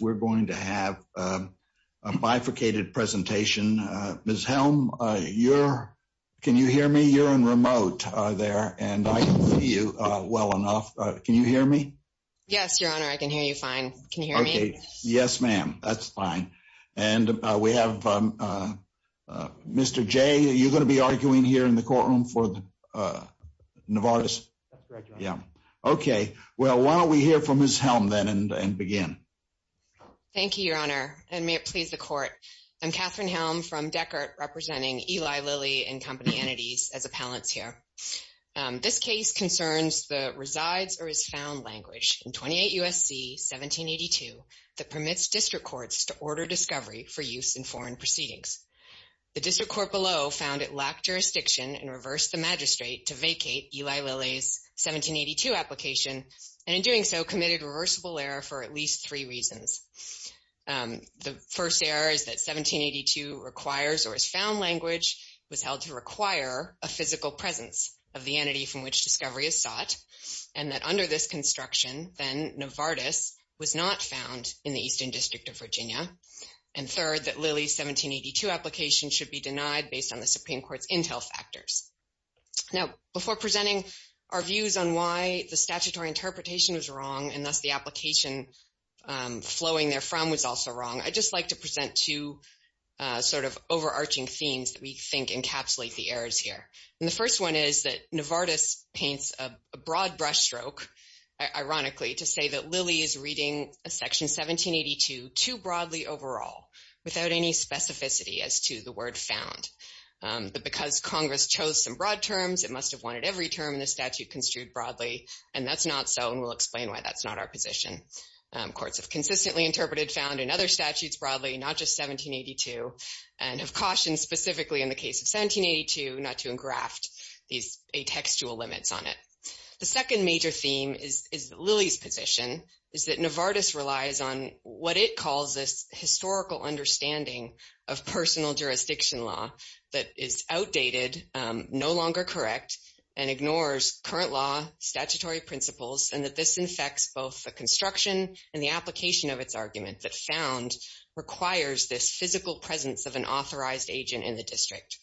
We're going to have a bifurcated presentation. Ms. Helm, can you hear me? You're in remote there, and I can see you well enough. Can you hear me? Yes, Your Honor. I can hear you fine. Can you hear me? Yes, ma'am. That's fine. And we have Mr. J. You're going to be arguing here in the courtroom for Novartis? That's correct, Your Honor. OK. Well, why don't we hear from Ms. Helm then and begin? Thank you, Your Honor. And may it please the court, I'm Katherine Helm from Deckert representing Eli Lilly and Company Entities as appellants here. This case concerns the resides or is found language in 28 USC 1782 that permits district courts to order discovery for use in foreign proceedings. The district court below found it lacked jurisdiction and reversed the magistrate to vacate Eli Lilly's 1782 application and in doing so committed reversible error for at least three reasons. The first error is that 1782 requires or is found language was held to require a physical presence of the entity from which discovery is sought and that under this construction, then Novartis was not found in the Eastern District of Virginia. And third, that Lilly's 1782 application should be denied based on the Supreme Court's intel factors. Now, before presenting our views on why the statutory interpretation was wrong and thus the application flowing therefrom was also wrong, I'd just like to present two sort of overarching themes that we think encapsulate the errors here. And the first one is that Novartis paints a broad brush stroke, ironically, to say that Lilly is reading a section 1782 too broadly overall without any specificity as to the word found. But because Congress chose some broad terms, it must have wanted every term in the statute construed broadly, and that's not so, and we'll explain why that's not our position. Courts have consistently interpreted found in other statutes broadly, not just 1782, and have cautioned specifically in the case of 1782 not to engraft these atextual limits on it. The second major theme is that Lilly's position is that Novartis relies on what it jurisdiction law that is outdated, no longer correct, and ignores current law, statutory principles, and that this infects both the construction and the application of its argument that found requires this physical presence of an authorized agent in the district.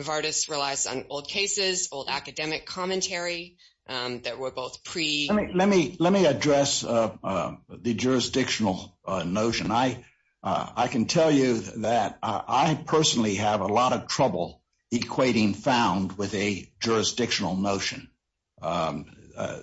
Novartis relies on old cases, old academic commentary that were both pre- Let me address the jurisdictional notion. I can tell you that I personally have a lot of trouble equating found with a jurisdictional notion.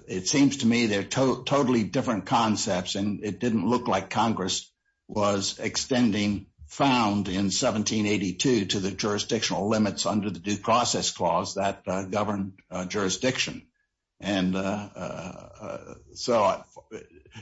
It seems to me they're totally different concepts, and it didn't look like Congress was extending found in 1782 to the jurisdictional limits under the due process clause that governed jurisdiction. And so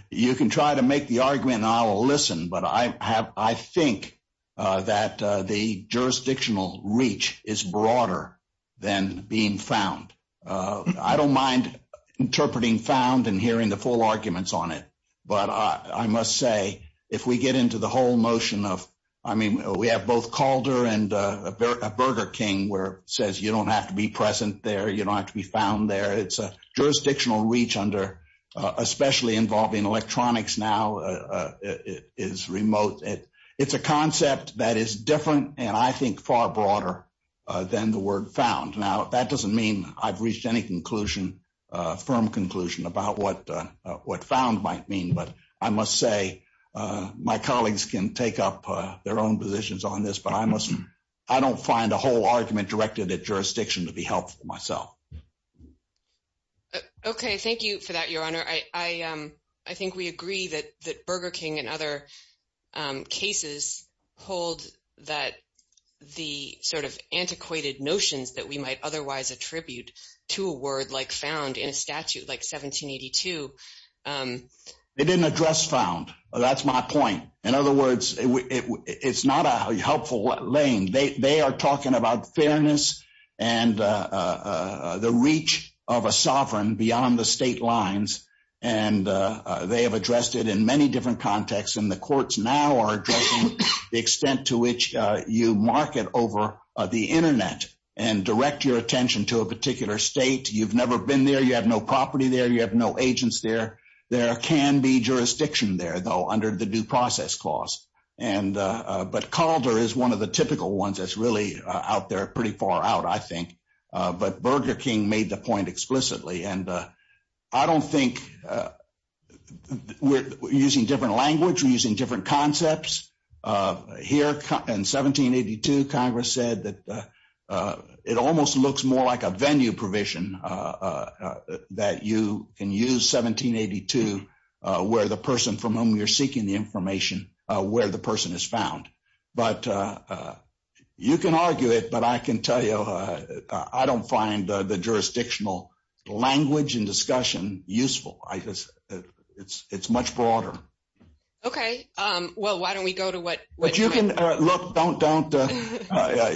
you can try to make the argument and I'll listen, but I think that the jurisdictional reach is broader than being found. I don't mind interpreting found and hearing the full arguments on it, but I must say, if we get into the whole notion of, I mean, we have both Calder and Burger King where it says you don't have to be present there, you don't have to be found there. It's a jurisdictional reach under, especially involving electronics now is remote. It's a concept that is different, and I think far broader than the word found. Now, that doesn't mean I've reached any firm conclusion about what found might mean, but I must say my colleagues can take up their own positions on this, but I don't find a whole argument directed at jurisdiction to be helpful to myself. Okay. Thank you for that, Your Honor. I think we agree that Burger King and other cases hold that the sort of antiquated notions that we might otherwise attribute to a word like found in a statute like 1782. They didn't address found. That's my point. In other words, it's not a helpful lane. They are talking about fairness and the reach of a sovereign beyond the state lines, and they have addressed it in many different contexts, and the courts now are addressing the extent to which you market over the internet and direct your attention to a particular state. You've never been there. You have no property there. You have no agents there. There can be jurisdiction there, though, under the due process clause, but Calder is one of the typical ones that's really out there pretty far out, I think, but Burger King made the point explicitly, and I don't think we're using different language. We're using different concepts. Here in 1782, Congress said that it almost looks more like a venue provision that you can use 1782 where the person from whom you're seeking the information, where the person is found. But you can argue it, but I can tell you I don't find the jurisdictional language and discussion useful. It's much broader. Okay. Well, why don't we go to what... Look, don't...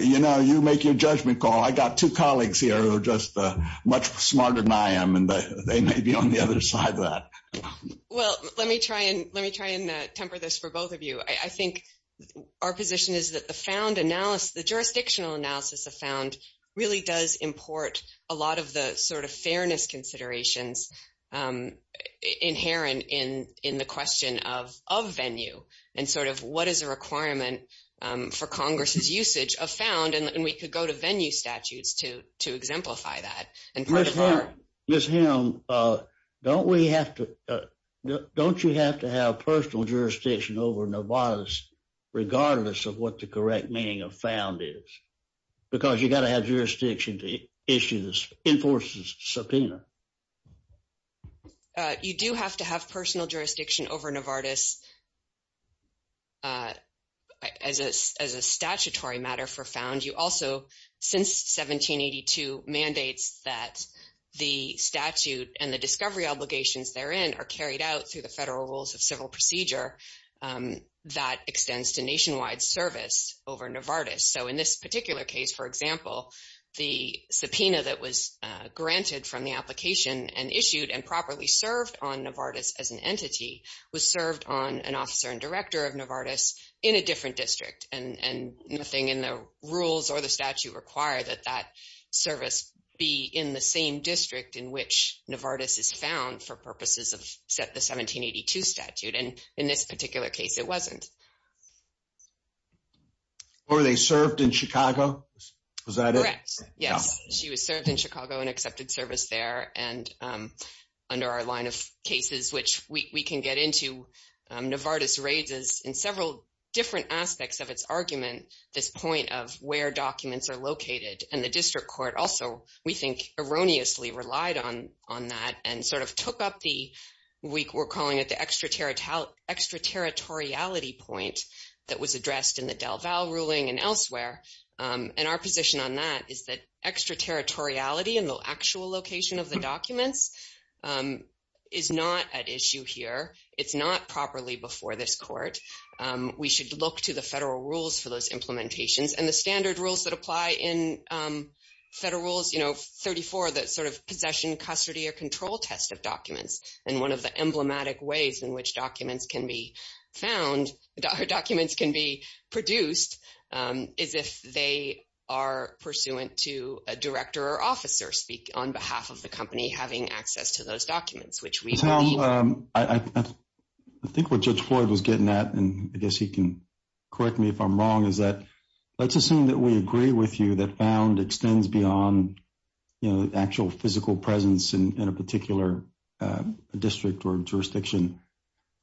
You know, you make your judgment call. I got two colleagues here who are just much smarter than I am, and they may be on the other side of that. Well, let me try and temper this for both of you. I think our position is that the found analysis, the jurisdictional analysis of found, really does import a lot of the sort of fairness considerations inherent in the question of venue and sort of what is a requirement for Congress's usage of found, and we could go to venue statutes to exemplify that. Ms. Hamm, don't we have to... Don't you have to have personal jurisdiction over Novartis regardless of what the correct meaning of found is? Because you got to have jurisdiction to issue the enforcers' subpoena. You do have to have personal jurisdiction over Novartis as a statutory matter for found. You also, since 1782, mandates that the statute and the discovery obligations therein are carried out through the federal rules of civil procedure that extends to nationwide service over Novartis. So in this particular case, for example, the subpoena that was granted from the application and issued and properly served on Novartis as an entity was served on an officer and director of Novartis in a different district and nothing in the rules or the statute require that that service be in the same district in which Novartis is found for purposes of the 1782 statute. And in this particular case, it wasn't. Were they served in Chicago? Was that it? Correct. Yes, she was served in Chicago and accepted service there. And under our line of cases, which we can get into, Novartis raises in several different aspects of its argument this point of where documents are located. And the district court also, we think, erroneously relied on that and sort of took up the week we're calling it the extraterritoriality point that was addressed in the DelVal ruling and elsewhere. And our position on that is that extraterritoriality in the actual location of the documents is not at issue here. It's not properly before this court. We should look to the federal rules for those implementations and the standard rules that apply in Federal Rules 34 that sort of possession, custody, or control test of documents. And one of the emblematic ways in which documents can be found or documents can be produced is if they are pursuant to a director or officer speak on behalf of the company having access to those documents, which we believe... I think what Judge Floyd was getting at, and I guess he can correct me if I'm wrong, is that let's assume that we agree with you that found extends beyond the actual physical presence in a particular district or jurisdiction,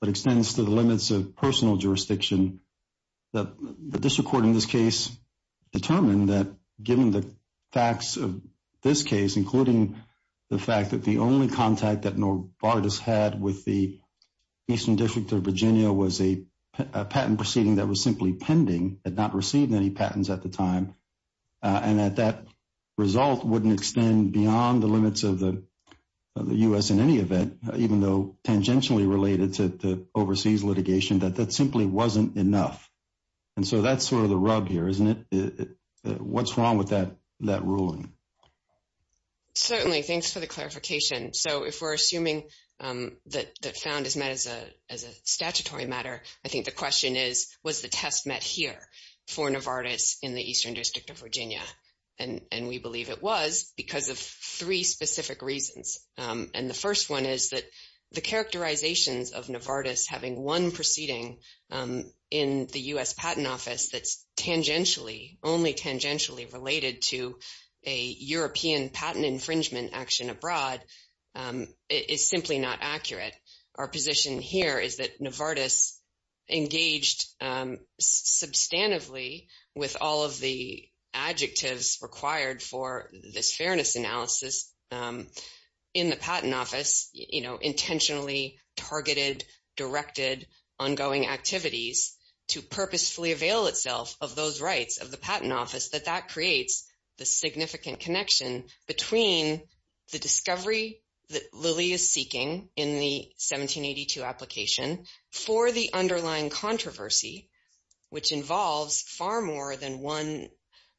but extends to the limits of personal jurisdiction. The district court in this case determined that given the facts of this case, including the fact that the only contact that Novartis had with the Eastern District of Virginia was a patent proceeding that was simply pending, had not received any patents at the time, and that that result wouldn't extend beyond the limits of the U.S. in any event, even though tangentially related to the overseas litigation, that that simply wasn't enough. And so that's sort of the rug here, isn't it? What's wrong with that ruling? Certainly. Thanks for the clarification. So if we're assuming that found is met as a statutory matter, I think the question is, was the test met here for Novartis in the Eastern District of Virginia? And we believe it was because of three specific reasons. And the first one is that the characterizations of Novartis having one proceeding in the U.S. Patent Office that's tangentially, only tangentially related to a European patent infringement action abroad is simply not accurate. Our position here is that Novartis engaged substantively with all of the adjectives required for this fairness analysis in the Patent Office, you know, intentionally targeted, directed, ongoing activities to purposefully avail itself of those rights of the Patent Office, that that creates the significant connection between the discovery that Lilly is seeking in the 1782 application for the underlying controversy, which involves far more than one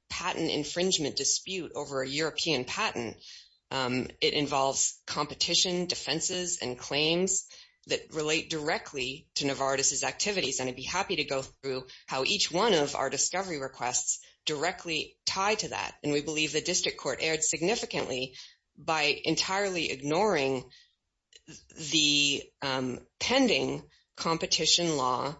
patent infringement dispute It involves competition, defenses, and claims that relate directly to Novartis' activities, and I'd be happy to go through how each one of our discovery requests directly tie to that. And we believe the district court erred significantly by entirely ignoring the pending competition law,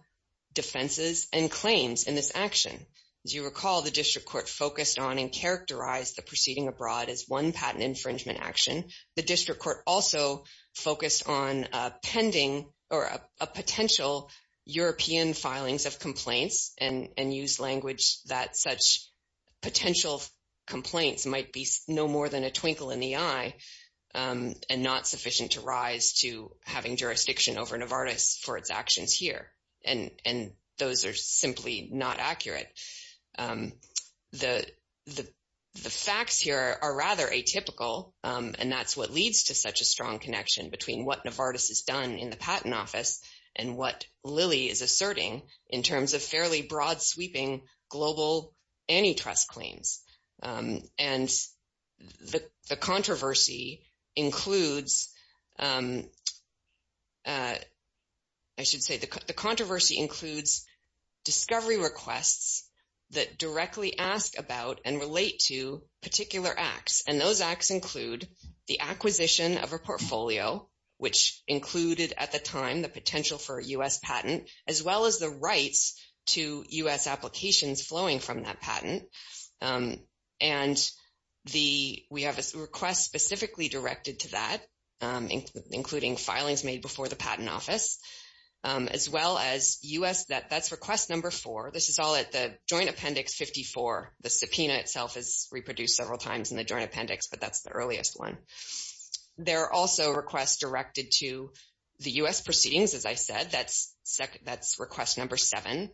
defenses, and claims in this action. As you recall, the district court focused on and characterized the proceeding abroad as one patent infringement action. The district court also focused on pending or a potential European filings of complaints and used language that such potential complaints might be no more than a twinkle in the eye and not sufficient to rise to having jurisdiction over Novartis for its actions here, and those are simply not accurate. The facts here are rather atypical, and that's what leads to such a strong connection between what Novartis has done in the Patent Office and what Lilly is asserting in terms of fairly broad-sweeping global antitrust claims. And the controversy includes... I should say the controversy includes discovery requests that directly ask about and relate to particular acts, and those acts include the acquisition of a portfolio, which included at the time the potential for a U.S. patent, as well as the rights to U.S. applications flowing from that patent. And we have a request specifically directed to that, including filings made before the Patent Office, as well as U.S. that's request number four. This is all at the Joint Appendix 54. The subpoena itself is reproduced several times in the Joint Appendix, but that's the earliest one. There are also requests directed to the U.S. proceedings, as I said, that's request number seven.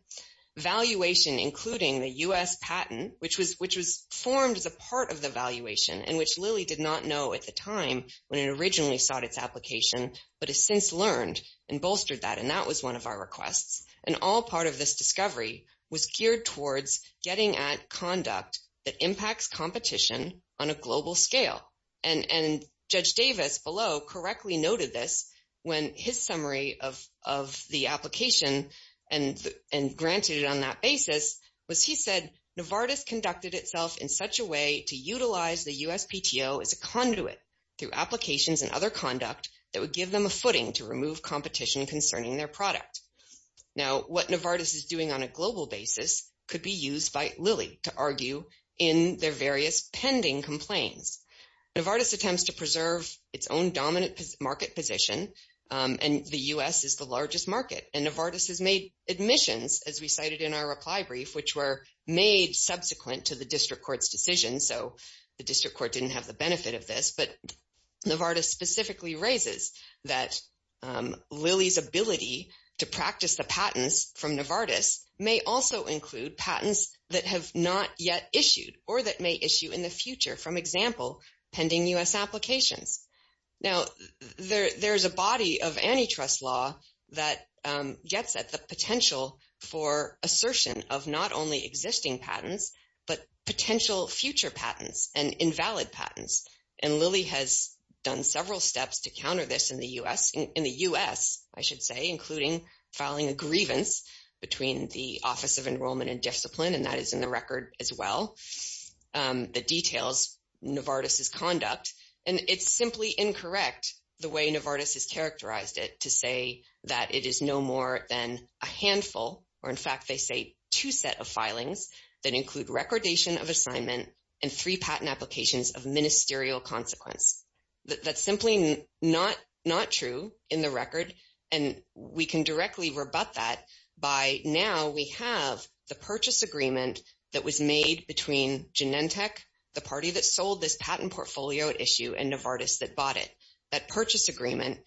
Valuation, including the U.S. patent, which was formed as a part of the valuation and which Lilly did not know at the time when it originally sought its application, but has since learned and bolstered that, and that was one of our requests. And all part of this discovery was geared towards getting at conduct that impacts competition on a global scale. And Judge Davis below correctly noted this when his summary of the application and granted it on that basis was he said, Novartis conducted itself in such a way to utilize the USPTO as a conduit through applications and other conduct that would give them a footing to remove competition concerning their product. Now, what Novartis is doing on a global basis could be used by Lilly to argue in their various pending complaints. Novartis attempts to preserve its own dominant market position and the U.S. is the largest market, and Novartis has made admissions, as we cited in our reply brief, which were made subsequent to the District Court's decision, so the District Court didn't have the benefit of this, but Novartis specifically raises that Lilly's ability to practice the patents from Novartis may also include patents that have not yet issued or that may issue in the future, for example, pending U.S. applications. Now, there is a body of antitrust law that gets at the potential for assertion of not only existing patents, but potential future patents and invalid patents, and Lilly has done several steps to counter this in the U.S., in the U.S., I should say, including filing a grievance between the Office of Enrollment and Discipline, and that is in the record as well, that details Novartis' conduct, and it's simply incorrect the way Novartis has characterized it to say that it is no more than a handful, or in fact they say two set of filings that include recordation of assignment and three patent applications of ministerial consequence. That's simply not true in the record, and we can directly rebut that by now we have the purchase agreement that was made between Genentech, the party that sold this patent portfolio at issue, and Novartis that bought it. That purchase agreement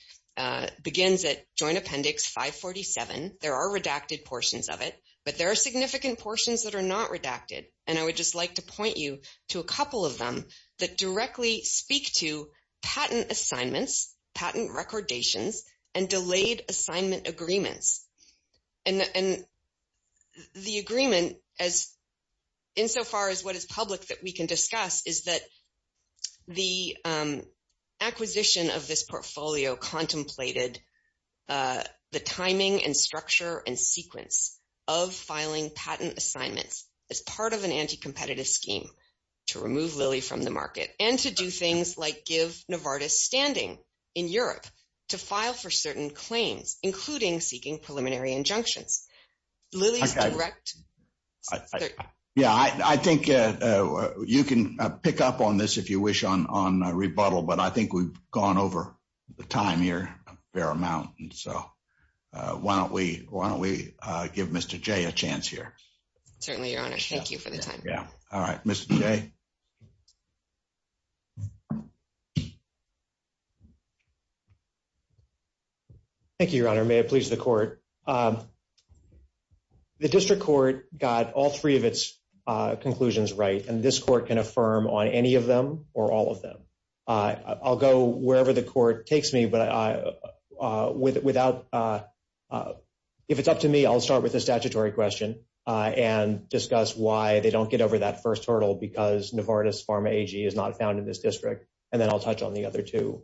begins at Joint Appendix 547. There are redacted portions of it, but there are significant portions that are not redacted, and I would just like to point you to a couple of them that directly speak to patent assignments, patent recordations, and delayed assignment agreements. And the agreement, insofar as what is public that we can discuss, is that the acquisition of this portfolio contemplated the timing and structure and sequence of filing patent assignments as part of an anti-competitive scheme to remove Lilly from the market and to do things like give Novartis standing in Europe to file for certain claims, including seeking preliminary injunctions. Lilly's direct... Yeah, I think you can pick up on this if you wish on rebuttal, but I think we've gone over the time here a fair amount, and so why don't we give Mr. Jay a chance here. Certainly, Your Honor. Thank you for the time. Yeah. All right. Mr. Jay. Thank you, Your Honor. May it please the Court. The District Court got all three of its conclusions right, and this Court can affirm on any of them or all of them. I'll go wherever the Court takes me, but without... And discuss why they don't get over that first hurdle because Novartis Pharma AG is not found in this district, and then I'll touch on the other two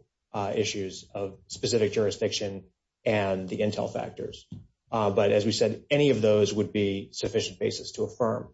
issues of specific jurisdiction and the intel factors. But as we said, any of those would be sufficient basis to affirm.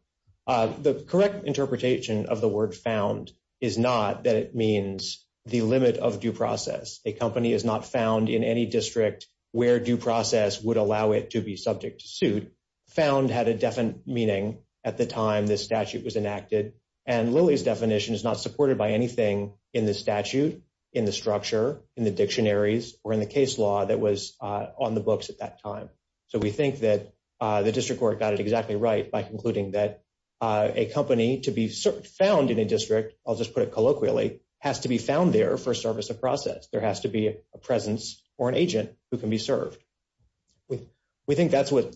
The correct interpretation of the word found is not that it means the limit of due process. A company is not found in any district where due process would allow it to be subject to suit. Found had a definite meaning at the time this statute was enacted, and Lilly's definition is not supported by anything in the statute, in the structure, in the dictionaries, or in the case law that was on the books at that time. So we think that the District Court got it exactly right by concluding that a company to be found in a district, I'll just put it colloquially, has to be found there for service of process. There has to be a presence or an agent who can be served. We think that's what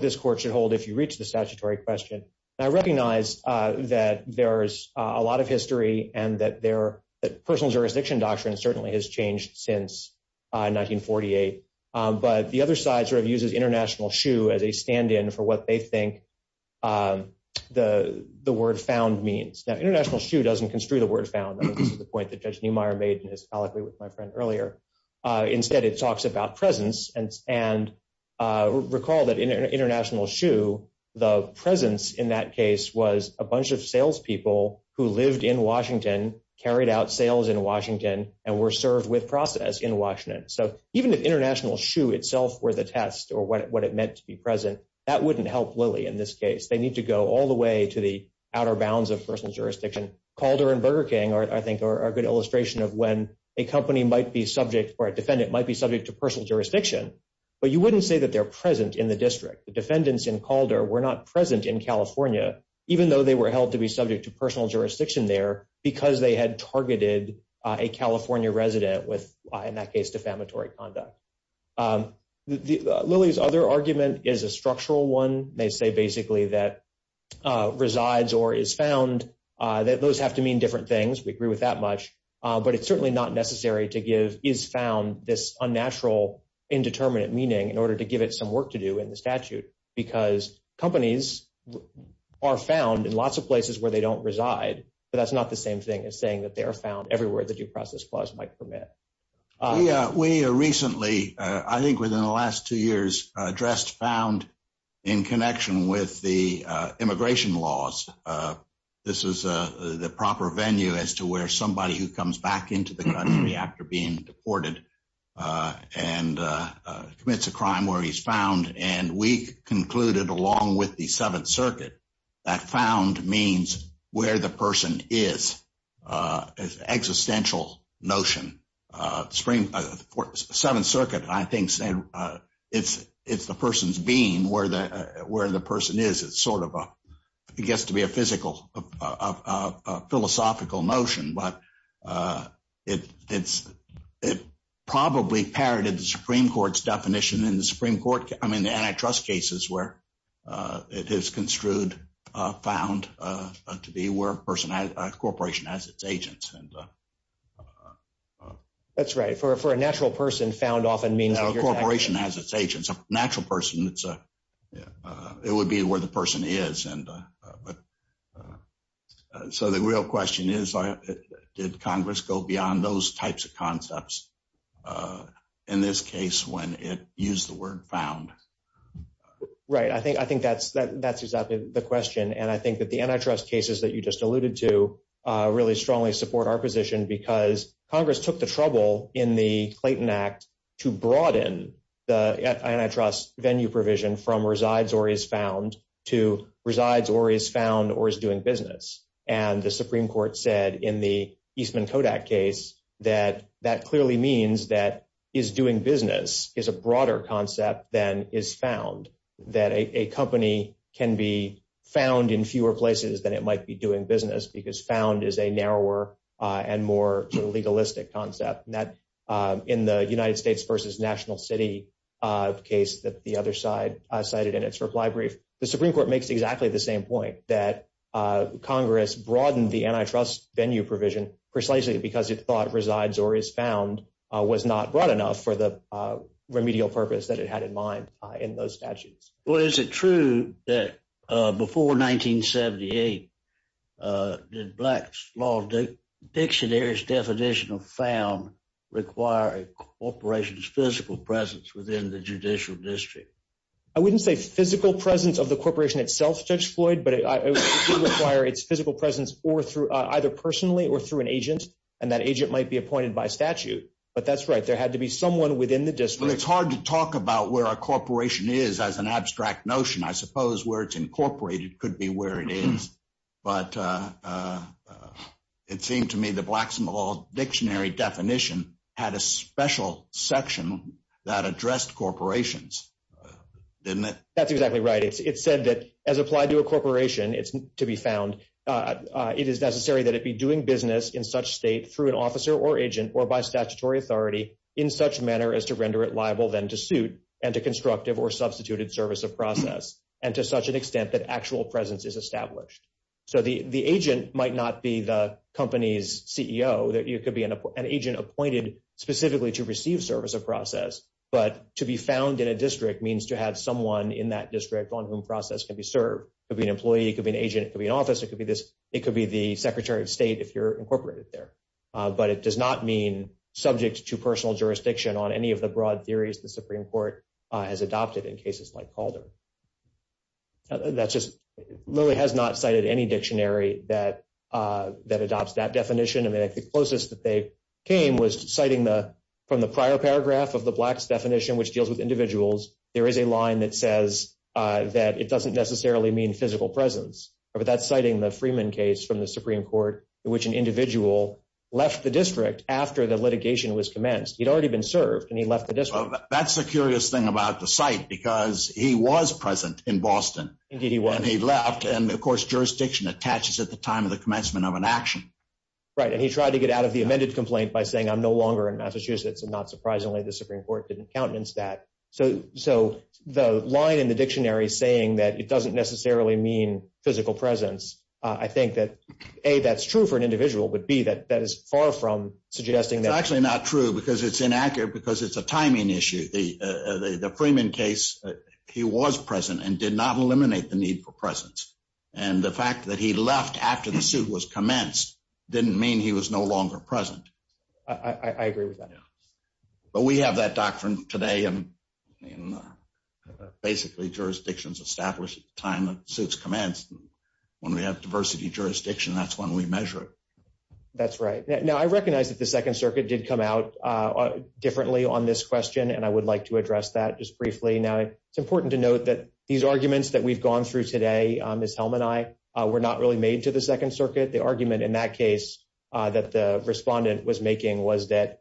this Court should hold if you reach the statutory question. I recognize that there's a lot of history and that personal jurisdiction doctrine certainly has changed since 1948. But the other side sort of uses international shoe as a stand-in for what they think the word found means. Now, international shoe doesn't construe the word found. This is the point that Judge Neumeier made in his colloquy with my friend earlier. Instead, it talks about presence, and recall that in international shoe, the presence in that case was a bunch of salespeople who lived in Washington, carried out sales in Washington, and were served with process in Washington. So even if international shoe itself were the test or what it meant to be present, that wouldn't help Lilly in this case. They need to go all the way to the outer bounds of personal jurisdiction. Calder and Burger King, I think, are a good illustration of when a company might be subject or a defendant might be subject to personal jurisdiction. But you wouldn't say that they're present in the district. The defendants in Calder were not present in California, even though they were held to be subject to personal jurisdiction there because they had targeted a California resident with, in that case, defamatory conduct. Lilly's other argument is a structural one. They say basically that resides or is found, that those have to mean different things. We agree with that much. But it's certainly not necessary to give is found this unnatural, indeterminate meaning in order to give it some work to do in the statute because companies are found in lots of places where they don't reside, but that's not the same thing as saying that they are found everywhere the due process clause might permit. We recently, I think within the last two years, addressed found in connection with the immigration laws. This is the proper venue as to where somebody who comes back into the country after being deported and commits a crime where he's found. And we concluded, along with the Seventh Circuit, that found means where the person is, an existential notion. The Seventh Circuit, I think, said it's the person's being, where the person is. It gets to be a philosophical notion, but it probably parroted the Supreme Court's definition in the Supreme Court, I mean the antitrust cases where it is construed found to be where a person, a corporation has its agents. That's right. For a natural person, found often means that you're… A corporation has its agents. It's a natural person. It would be where the person is. So the real question is did Congress go beyond those types of concepts, in this case when it used the word found? Right. I think that's exactly the question, and I think that the antitrust cases that you just alluded to really strongly support our position because Congress took the trouble in the Clayton Act to broaden the antitrust venue provision from resides or is found to resides or is found or is doing business. And the Supreme Court said in the Eastman-Kodak case that that clearly means that is doing business is a broader concept than is found, that a company can be found in fewer places than it might be doing business because found is a narrower and more legalistic concept. In the United States v. National City case that the other side cited in its reply brief, the Supreme Court makes exactly the same point, that Congress broadened the antitrust venue provision precisely because it thought resides or is found was not broad enough for the remedial purpose that it had in mind in those statutes. Well, is it true that before 1978 did Black's Law Dictionary's definition of found require a corporation's physical presence within the judicial district? I wouldn't say physical presence of the corporation itself, Judge Floyd, but it did require its physical presence either personally or through an agent, and that agent might be appointed by statute. But that's right. There had to be someone within the district. Well, it's hard to talk about where a corporation is as an abstract notion. I suppose where it's incorporated could be where it is. But it seemed to me the Black's Law Dictionary definition had a special section that addressed corporations, didn't it? That's exactly right. It said that as applied to a corporation to be found, it is necessary that it be doing business in such state through an officer or agent or by statutory authority in such manner as to render it liable then to suit and to constructive or substituted service of process and to such an extent that actual presence is established. So the agent might not be the company's CEO. It could be an agent appointed specifically to receive service of process, but to be found in a district means to have someone in that district on whom process can be served. It could be an employee. It could be an agent. It could be an officer. It could be the Secretary of State if you're incorporated there. But it does not mean subject to personal jurisdiction on any of the broad theories the Supreme Court has adopted in cases like Calder. Lilly has not cited any dictionary that adopts that definition. I think the closest that they came was citing from the prior paragraph of the Black's definition, which deals with individuals, there is a line that says that it doesn't necessarily mean physical presence. But that's citing the Freeman case from the Supreme Court in which an individual left the district after the litigation was commenced. He'd already been served and he left the district. That's the curious thing about the site because he was present in Boston. Indeed he was. And he left. And, of course, jurisdiction attaches at the time of the commencement of an action. Right. And he tried to get out of the amended complaint by saying, I'm no longer in Massachusetts. And not surprisingly, the Supreme Court didn't countenance that. So the line in the dictionary saying that it doesn't necessarily mean physical presence, I think that, A, that's true for an individual, but, B, that is far from suggesting that. It's actually not true because it's inaccurate because it's a timing issue. The Freeman case, he was present and did not eliminate the need for presence. And the fact that he left after the suit was commenced didn't mean he was no longer present. I agree with that. But we have that doctrine today. Basically, jurisdiction is established at the time the suit is commenced. When we have diversity of jurisdiction, that's when we measure it. That's right. Now, I recognize that the Second Circuit did come out differently on this question, and I would like to address that just briefly. Now, it's important to note that these arguments that we've gone through today, Ms. Helm and I, were not really made to the Second Circuit. The argument in that case that the respondent was making was that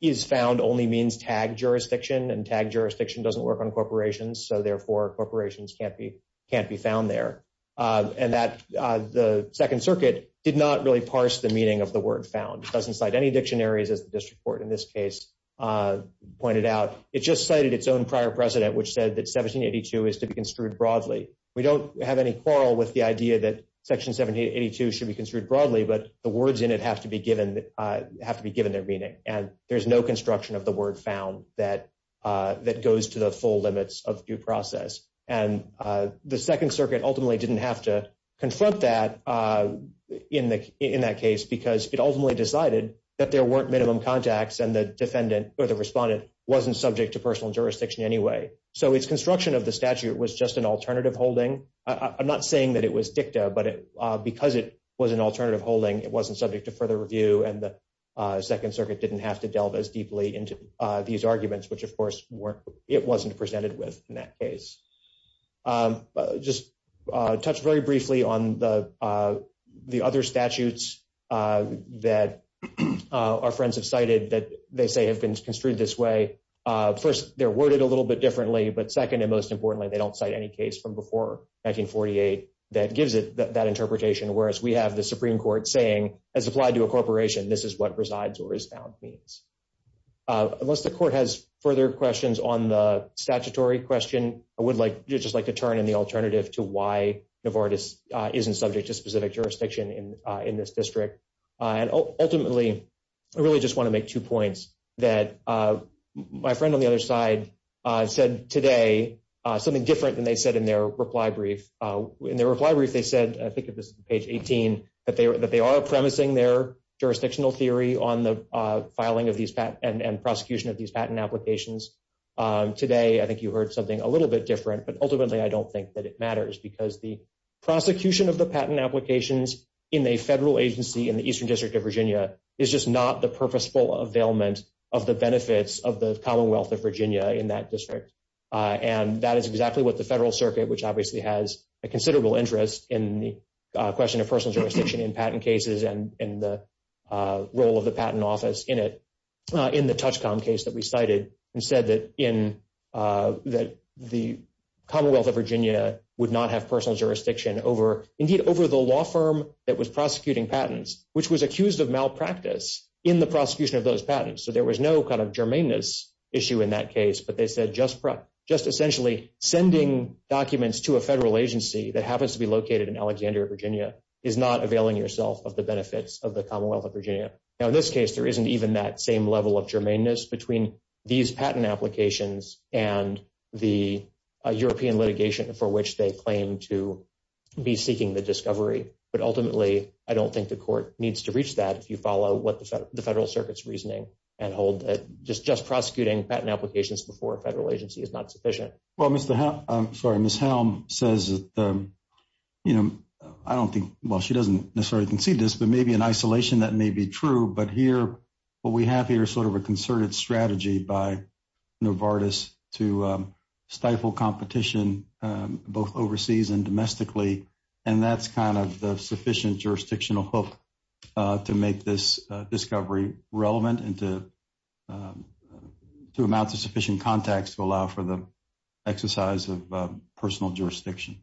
is found only means tagged jurisdiction, and tagged jurisdiction doesn't work on corporations, so, therefore, corporations can't be found there. And the Second Circuit did not really parse the meaning of the word found. It doesn't cite any dictionaries, as the district court in this case pointed out. It just cited its own prior precedent, which said that 1782 is to be construed broadly. We don't have any quarrel with the idea that Section 1782 should be construed broadly, but the words in it have to be given their meaning, and there's no construction of the word found that goes to the full limits of due process. And the Second Circuit ultimately didn't have to confront that in that case because it ultimately decided that there weren't minimum contacts and the defendant or the respondent wasn't subject to personal jurisdiction anyway. So its construction of the statute was just an alternative holding. I'm not saying that it was dicta, but because it was an alternative holding, it wasn't subject to further review, and the Second Circuit didn't have to delve as deeply into these arguments, which, of course, it wasn't presented with in that case. Just touch very briefly on the other statutes that our friends have cited that they say have been construed this way. First, they're worded a little bit differently, but second and most importantly, they don't cite any case from before 1948 that gives it that interpretation, whereas we have the Supreme Court saying, as applied to a corporation, this is what resides or is found means. Unless the court has further questions on the statutory question, I would just like to turn in the alternative to why Novartis isn't subject to specific jurisdiction in this district. Ultimately, I really just want to make two points that my friend on the other side said today, something different than they said in their reply brief. In their reply brief, they said, I think this is page 18, that they are premising their jurisdictional theory on the filing and prosecution of these patent applications. Today, I think you heard something a little bit different, but ultimately I don't think that it matters because the prosecution of the patent applications in a federal agency in the Eastern District of Virginia is just not the purposeful availment of the benefits of the Commonwealth of Virginia in that district. And that is exactly what the Federal Circuit, which obviously has a considerable interest in the question of personal jurisdiction in patent cases and in the role of the patent office in it, in the Touchcom case that we cited, said that the Commonwealth of Virginia would not have personal jurisdiction over, indeed, over the law firm that was prosecuting patents, which was accused of malpractice in the prosecution of those patents. So there was no kind of germaneness issue in that case. But they said just essentially sending documents to a federal agency that happens to be located in Alexandria, Virginia, is not availing yourself of the benefits of the Commonwealth of Virginia. Now, in this case, there isn't even that same level of germaneness between these patent applications and the European litigation for which they claim to be seeking the discovery. But ultimately, I don't think the court needs to reach that if you follow what the Federal Circuit's reasoning and hold that just prosecuting patent applications before a federal agency is not sufficient. Well, Mr. Helm, I'm sorry, Ms. Helm says, you know, I don't think, well, she doesn't necessarily concede this, but maybe in isolation that may be true. But here, what we have here is sort of a concerted strategy by Novartis to stifle competition both overseas and domestically. And that's kind of the sufficient jurisdictional hook to make this discovery relevant and to amount to sufficient context to allow for the exercise of personal jurisdiction.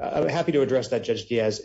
I'm happy to address that, Judge Diaz.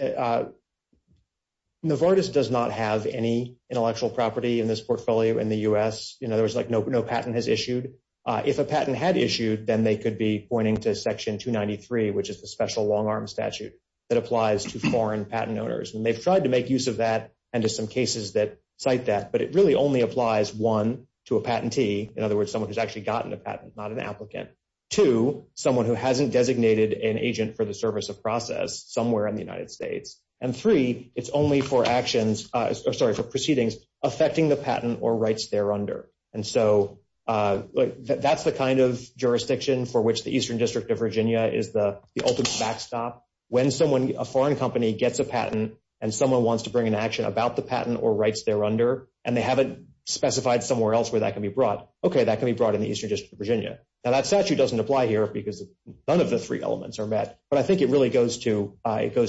Novartis does not have any intellectual property in this portfolio in the U.S. You know, there's like no patent has issued. If a patent had issued, then they could be pointing to Section 293, which is the special long arm statute that applies to foreign patent owners. And they've tried to make use of that and to some cases that cite that. But it really only applies, one, to a patentee. In other words, someone who's actually gotten a patent, not an applicant. Two, someone who hasn't designated an agent for the service of process somewhere in the United States. And three, it's only for actions, sorry, for proceedings affecting the patent or rights there under. And so that's the kind of jurisdiction for which the Eastern District of Virginia is the ultimate backstop. When a foreign company gets a patent and someone wants to bring an action about the patent or rights there under, and they haven't specified somewhere else where that can be brought, okay, that can be brought in the Eastern District of Virginia. Now, that statute doesn't apply here because none of the three elements are met. But I think it really goes to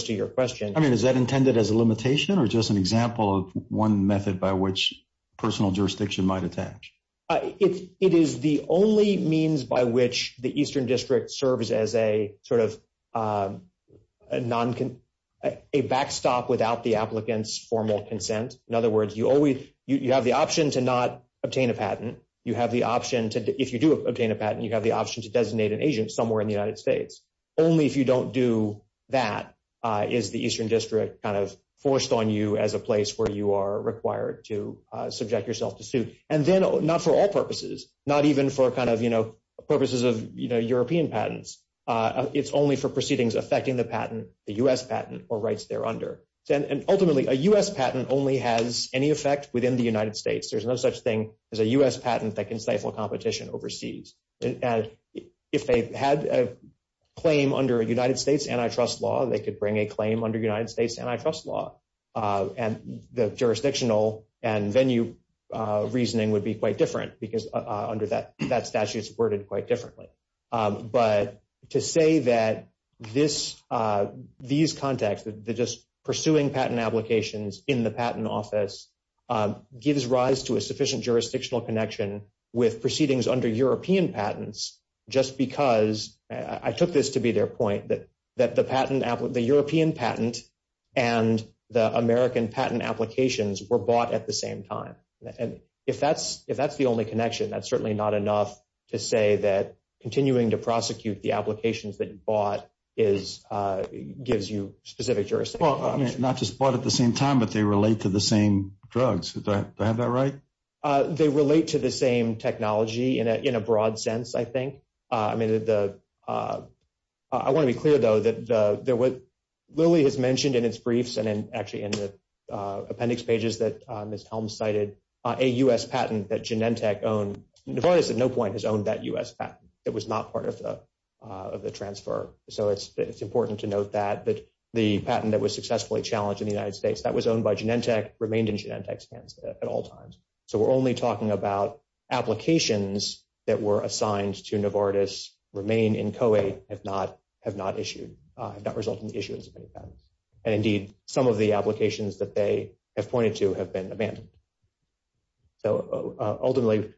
your question. I mean, is that intended as a limitation or just an example of one method by which personal jurisdiction might attach? It is the only means by which the Eastern District serves as a sort of a backstop without the applicant's formal consent. In other words, you have the option to not obtain a patent. You have the option to, if you do obtain a patent, you have the option to designate an agent somewhere in the United States. Only if you don't do that is the Eastern District kind of forced on you as a place where you are required to subject yourself to suit. And then not for all purposes, not even for kind of, you know, purposes of, you know, European patents. It's only for proceedings affecting the patent, the U.S. patent or rights there under. And ultimately, a U.S. patent only has any effect within the United States. There's no such thing as a U.S. patent that can stifle competition overseas. And if they had a claim under a United States antitrust law, they could bring a claim under United States antitrust law. And the jurisdictional and venue reasoning would be quite different because under that statute, it's worded quite differently. But to say that these contacts, just pursuing patent applications in the patent office, gives rise to a sufficient jurisdictional connection with proceedings under European patents just because, I took this to be their point, that the European patent and the American patent applications were bought at the same time. And if that's the only connection, that's certainly not enough to say that continuing to prosecute the applications that you bought gives you specific jurisdiction. Well, I mean, not just bought at the same time, but they relate to the same drugs. Do I have that right? They relate to the same technology in a broad sense, I think. I want to be clear, though, that what Lilly has mentioned in its briefs and actually in the appendix pages that Ms. Helms cited, a U.S. patent that Genentech owned, Novartis at no point has owned that U.S. patent. It was not part of the transfer. So it's important to note that the patent that was successfully challenged in the United States, that was owned by Genentech, remained in Genentech's hands at all times. So we're only talking about applications that were assigned to Novartis remain in COE have not issued, have not resulted in issuance of any patents. And indeed, some of the applications that they have pointed to have been abandoned. So ultimately,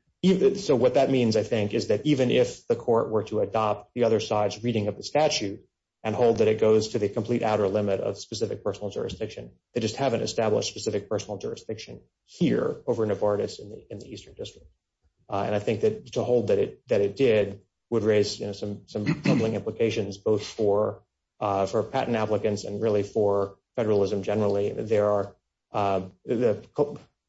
so what that means, I think, is that even if the court were to adopt the other side's reading of the statute and hold that it goes to the complete outer limit of specific personal jurisdiction, they just haven't established specific personal jurisdiction here over Novartis in the eastern district. And I think that to hold that it that it did would raise some troubling implications, both for for patent applicants and really for federalism generally. There are the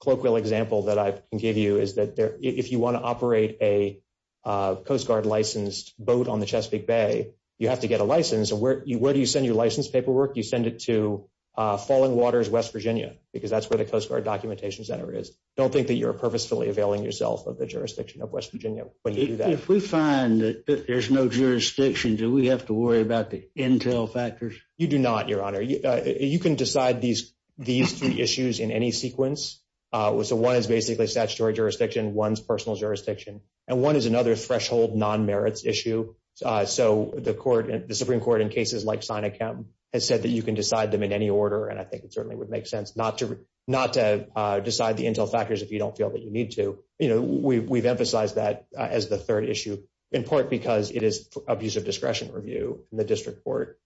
colloquial example that I can give you is that if you want to operate a Coast Guard licensed boat on the Chesapeake Bay, you have to get a license. And so where do you send your license paperwork? You send it to Falling Waters, West Virginia, because that's where the Coast Guard Documentation Center is. Don't think that you're purposefully availing yourself of the jurisdiction of West Virginia. If we find that there's no jurisdiction, do we have to worry about the intel factors? You do not, Your Honor. You can decide these these three issues in any sequence. So one is basically statutory jurisdiction, one's personal jurisdiction, and one is another threshold non-merits issue. So the court and the Supreme Court in cases like Sinachem has said that you can decide them in any order. And I think it certainly would make sense not to not to decide the intel factors if you don't feel that you need to. We've emphasized that as the third issue, in part because it is abuse of discretion review. And the district court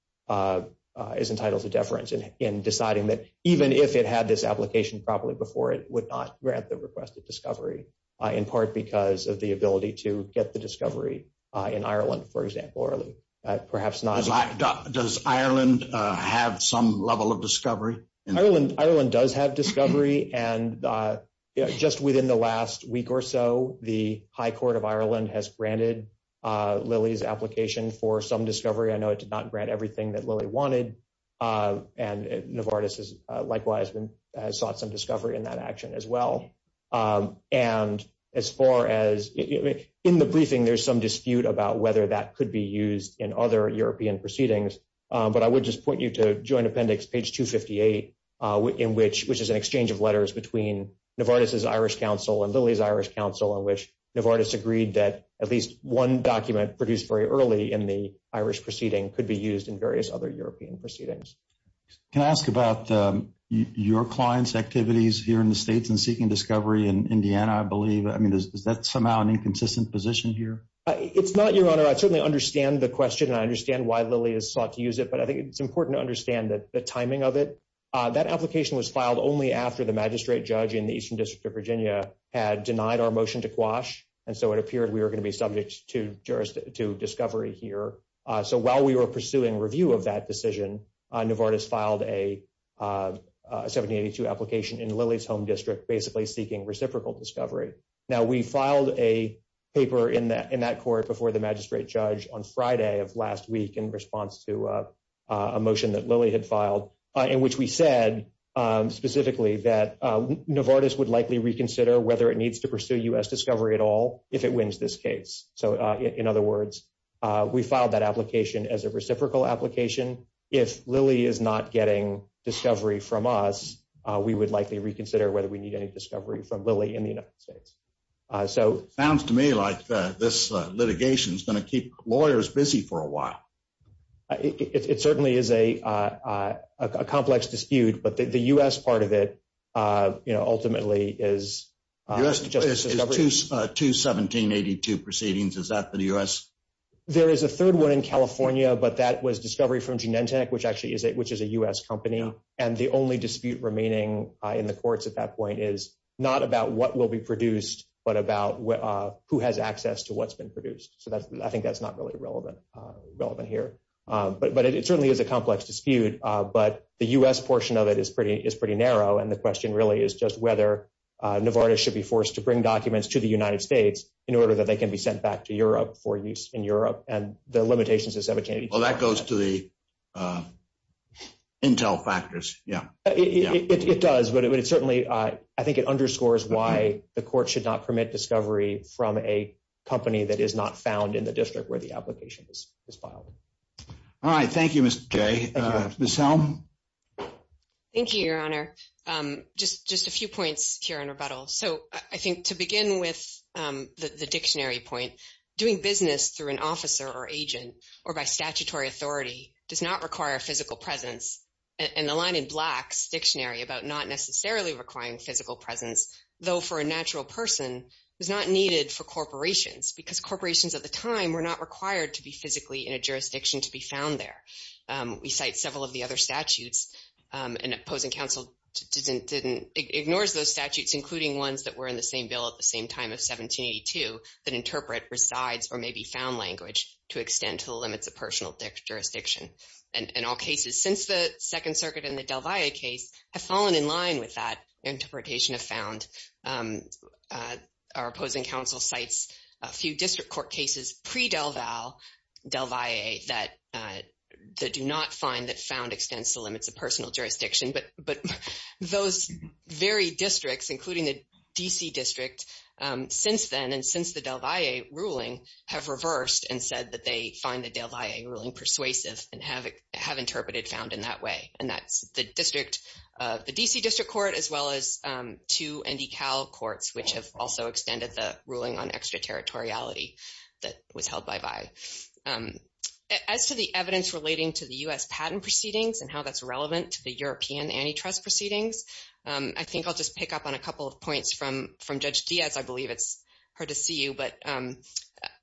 is entitled to deference in deciding that even if it had this application properly before, it would not grant the request of discovery, in part because of the ability to get the discovery in Ireland, for example. Does Ireland have some level of discovery? Ireland does have discovery. And just within the last week or so, the High Court of Ireland has granted Lilly's application for some discovery. I know it did not grant everything that Lilly wanted. And Novartis has likewise sought some discovery in that action as well. And as far as in the briefing, there's some dispute about whether that could be used in other European proceedings. But I would just point you to Joint Appendix, page 258, which is an exchange of letters between Novartis' Irish counsel and Lilly's Irish counsel, in which Novartis agreed that at least one document produced very early in the Irish proceeding could be used in various other European proceedings. Can I ask about your client's activities here in the States in seeking discovery in Indiana, I believe? I mean, is that somehow an inconsistent position here? It's not, Your Honor. I certainly understand the question, and I understand why Lilly has sought to use it. But I think it's important to understand the timing of it. That application was filed only after the magistrate judge in the Eastern District of Virginia had denied our motion to quash. And so it appeared we were going to be subject to discovery here. So while we were pursuing review of that decision, Novartis filed a 1782 application in Lilly's home district basically seeking reciprocal discovery. Now, we filed a paper in that court before the magistrate judge on Friday of last week in response to a motion that Lilly had filed, in which we said specifically that Novartis would likely reconsider whether it needs to pursue U.S. discovery at all if it wins this case. So, in other words, we filed that application as a reciprocal application. If Lilly is not getting discovery from us, we would likely reconsider whether we need any discovery from Lilly in the United States. So it sounds to me like this litigation is going to keep lawyers busy for a while. It certainly is a complex dispute, but the U.S. part of it, you know, ultimately is just discovery. U.S. is to 1782 proceedings. Is that the U.S.? There is a third one in California, but that was discovery from Genentech, which actually is a U.S. company. And the only dispute remaining in the courts at that point is not about what will be produced, but about who has access to what's been produced. So I think that's not really relevant here. But it certainly is a complex dispute, but the U.S. portion of it is pretty narrow, and the question really is just whether Novartis should be forced to bring documents to the United States in order that they can be sent back to Europe for use in Europe and the limitations of 1782. Well, that goes to the intel factors. Yeah. It does, but it certainly, I think it underscores why the court should not permit discovery from a company that is not found in the district where the application is filed. All right. Thank you, Mr. Jay. Ms. Helm? Thank you, Your Honor. Just a few points here in rebuttal. So I think to begin with the dictionary point, doing business through an officer or agent or by statutory authority does not require a physical presence. And the line in Black's dictionary about not necessarily requiring physical presence, though for a natural person, was not needed for corporations, because corporations at the time were not required to be physically in a jurisdiction to be found there. We cite several of the other statutes, and opposing counsel ignores those statutes, including ones that were in the same bill at the same time of 1782, that interpret resides or may be found language to extend to the limits of personal jurisdiction. And all cases since the Second Circuit and the Del Valle case have fallen in line with that interpretation of found. Our opposing counsel cites a few district court cases pre-Del Valle that do not find that found extends to limits of personal jurisdiction. But those very districts, including the D.C. District, since then and since the Del Valle ruling, have reversed and said that they find the Del Valle ruling persuasive and have interpreted found in that way. And that's the D.C. District Court as well as two NDCal courts, which have also extended the ruling on extraterritoriality that was held by Valle. As to the evidence relating to the U.S. patent proceedings and how that's relevant to the European antitrust proceedings, I think I'll just pick up on a couple of points from Judge Diaz. I believe it's hard to see you, but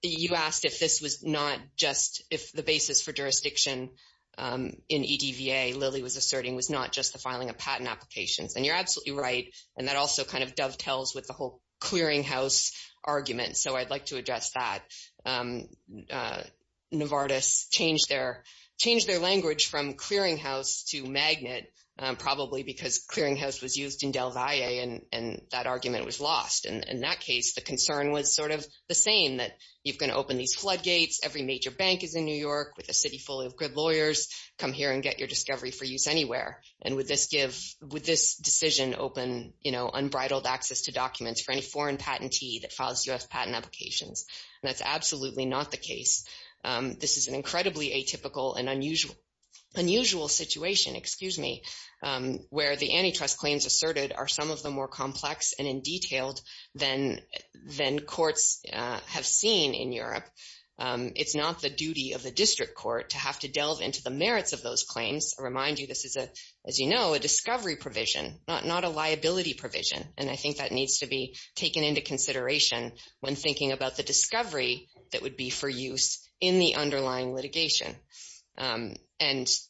you asked if this was not just if the basis for jurisdiction in EDVA, Lily was asserting, was not just the filing of patent applications. And you're absolutely right. And that also kind of dovetails with the whole clearinghouse argument. So I'd like to address that. Novartis changed their language from clearinghouse to magnet, probably because clearinghouse was used in Del Valle and that argument was lost. And in that case, the concern was sort of the same, that you're going to open these floodgates. Every major bank is in New York with a city full of good lawyers. Come here and get your discovery for use anywhere. And would this decision open unbridled access to documents for any foreign patentee that files U.S. patent applications? And that's absolutely not the case. This is an incredibly atypical and unusual situation, where the antitrust claims asserted are some of the more complex and in detailed than courts have seen in Europe. It's not the duty of the district court to have to delve into the merits of those claims. I remind you, this is, as you know, a discovery provision, not a liability provision. And I think that needs to be taken into consideration when thinking about the discovery that would be for use in the underlying litigation. And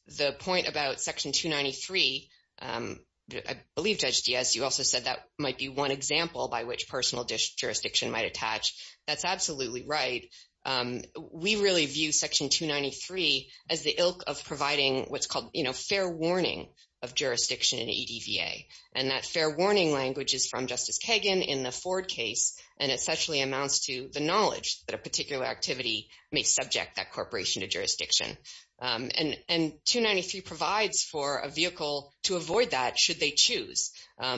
the point about Section 293, I believe, Judge Diaz, you also said that might be one example by which personal jurisdiction might attach. That's absolutely right. We really view Section 293 as the ilk of providing what's called fair warning of jurisdiction in EDVA. And that fair warning language is from Justice Kagan in the Ford case, and essentially amounts to the knowledge that a particular activity may subject that corporation to jurisdiction. And 293 provides for a vehicle to avoid that should they choose.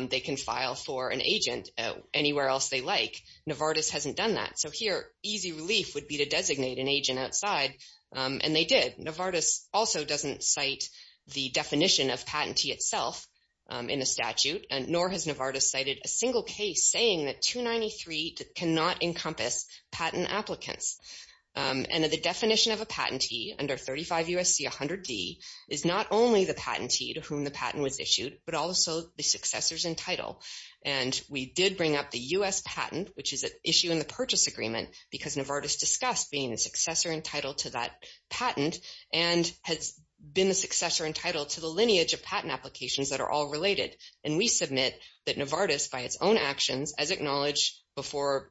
They can file for an agent anywhere else they like. Novartis hasn't done that. So here, easy relief would be to designate an agent outside, and they did. Novartis also doesn't cite the definition of patentee itself in the statute, nor has Novartis cited a single case saying that 293 cannot encompass patent applicants. And the definition of a patentee under 35 U.S.C. 100D is not only the patentee to whom the patent was issued, but also the successors in title. And we did bring up the U.S. patent, which is an issue in the purchase agreement, because Novartis discussed being a successor in title to that patent, and has been a successor in title to the lineage of patent applications that are all related. And we submit that Novartis, by its own actions, as acknowledged before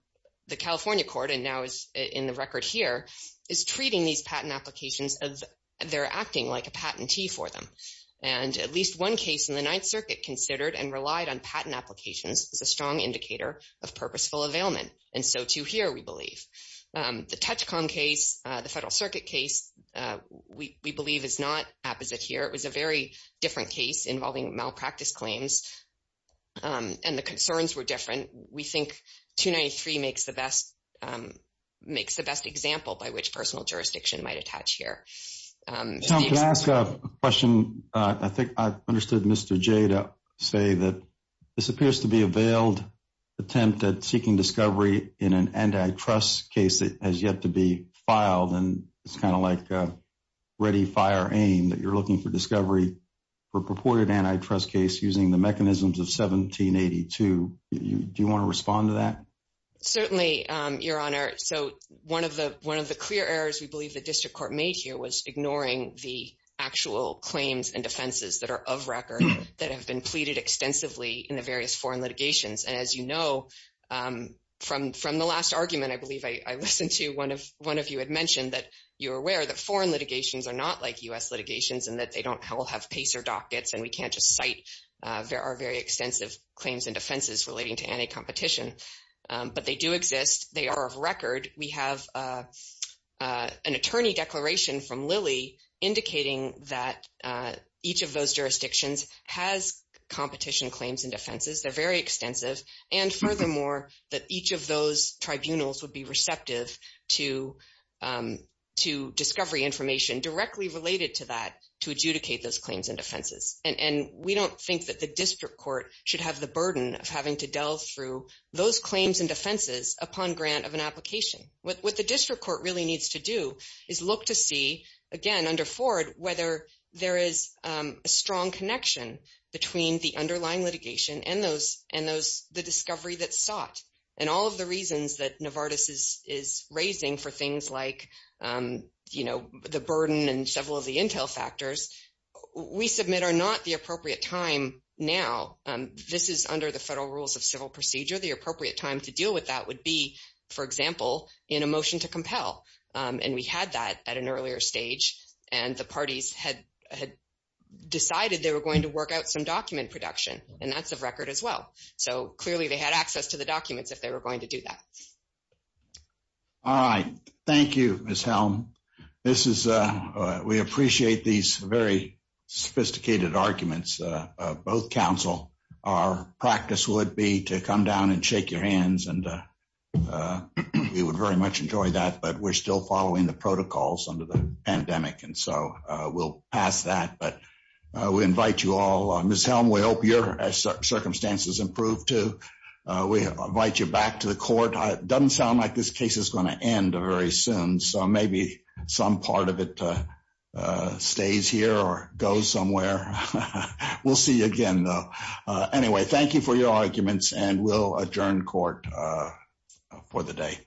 the California court, and now is in the record here, is treating these patent applications as they're acting like a patentee for them. And at least one case in the Ninth Circuit considered and relied on patent applications as a strong indicator of purposeful availment. And so, too, here, we believe. The Touchcom case, the Federal Circuit case, we believe is not apposite here. It was a very different case involving malpractice claims, and the concerns were different. We think 293 makes the best example by which personal jurisdiction might attach here. Tom, can I ask a question? I think I understood Mr. J to say that this appears to be a veiled attempt at seeking discovery in an antitrust case that has yet to be filed, and it's kind of like a ready-fire aim that you're looking for discovery for purported antitrust case using the mechanisms of 1782. Do you want to respond to that? Certainly, Your Honor. So one of the clear errors we believe the district court made here was ignoring the actual claims and defenses that are of record that have been pleaded extensively in the various foreign litigations. And as you know, from the last argument, I believe I listened to, one of you had mentioned that you're aware that foreign litigations are not like U.S. litigations and that they don't all have PACER dockets, and we can't just cite there are very extensive claims and defenses relating to anti-competition. But they do exist. They are of record. We have an attorney declaration from Lilly indicating that each of those jurisdictions has competition claims and defenses. They're very extensive. And furthermore, that each of those tribunals would be receptive to discovery information directly related to that to adjudicate those claims and defenses. And we don't think that the district court should have the burden of having to delve through those claims and defenses upon grant of an application. What the district court really needs to do is look to see, again, under Ford, whether there is a strong connection between the underlying litigation and the discovery that's sought. And all of the reasons that Novartis is raising for things like, you know, the burden and several of the intel factors, we submit are not the appropriate time now. This is under the federal rules of civil procedure. The appropriate time to deal with that would be, for example, in a motion to compel. And we had that at an earlier stage, and the parties had decided they were going to work out some document production, and that's of record as well. So clearly they had access to the documents if they were going to do that. All right. Thank you, Ms. Helm. We appreciate these very sophisticated arguments of both counsel. Our practice would be to come down and shake your hands, and we would very much enjoy that. But we're still following the protocols under the pandemic, and so we'll pass that. But we invite you all. Ms. Helm, we hope your circumstances improve, too. We invite you back to the court. It doesn't sound like this case is going to end very soon, so maybe some part of it stays here or goes somewhere. We'll see you again, though. Anyway, thank you for your arguments, and we'll adjourn court for the day.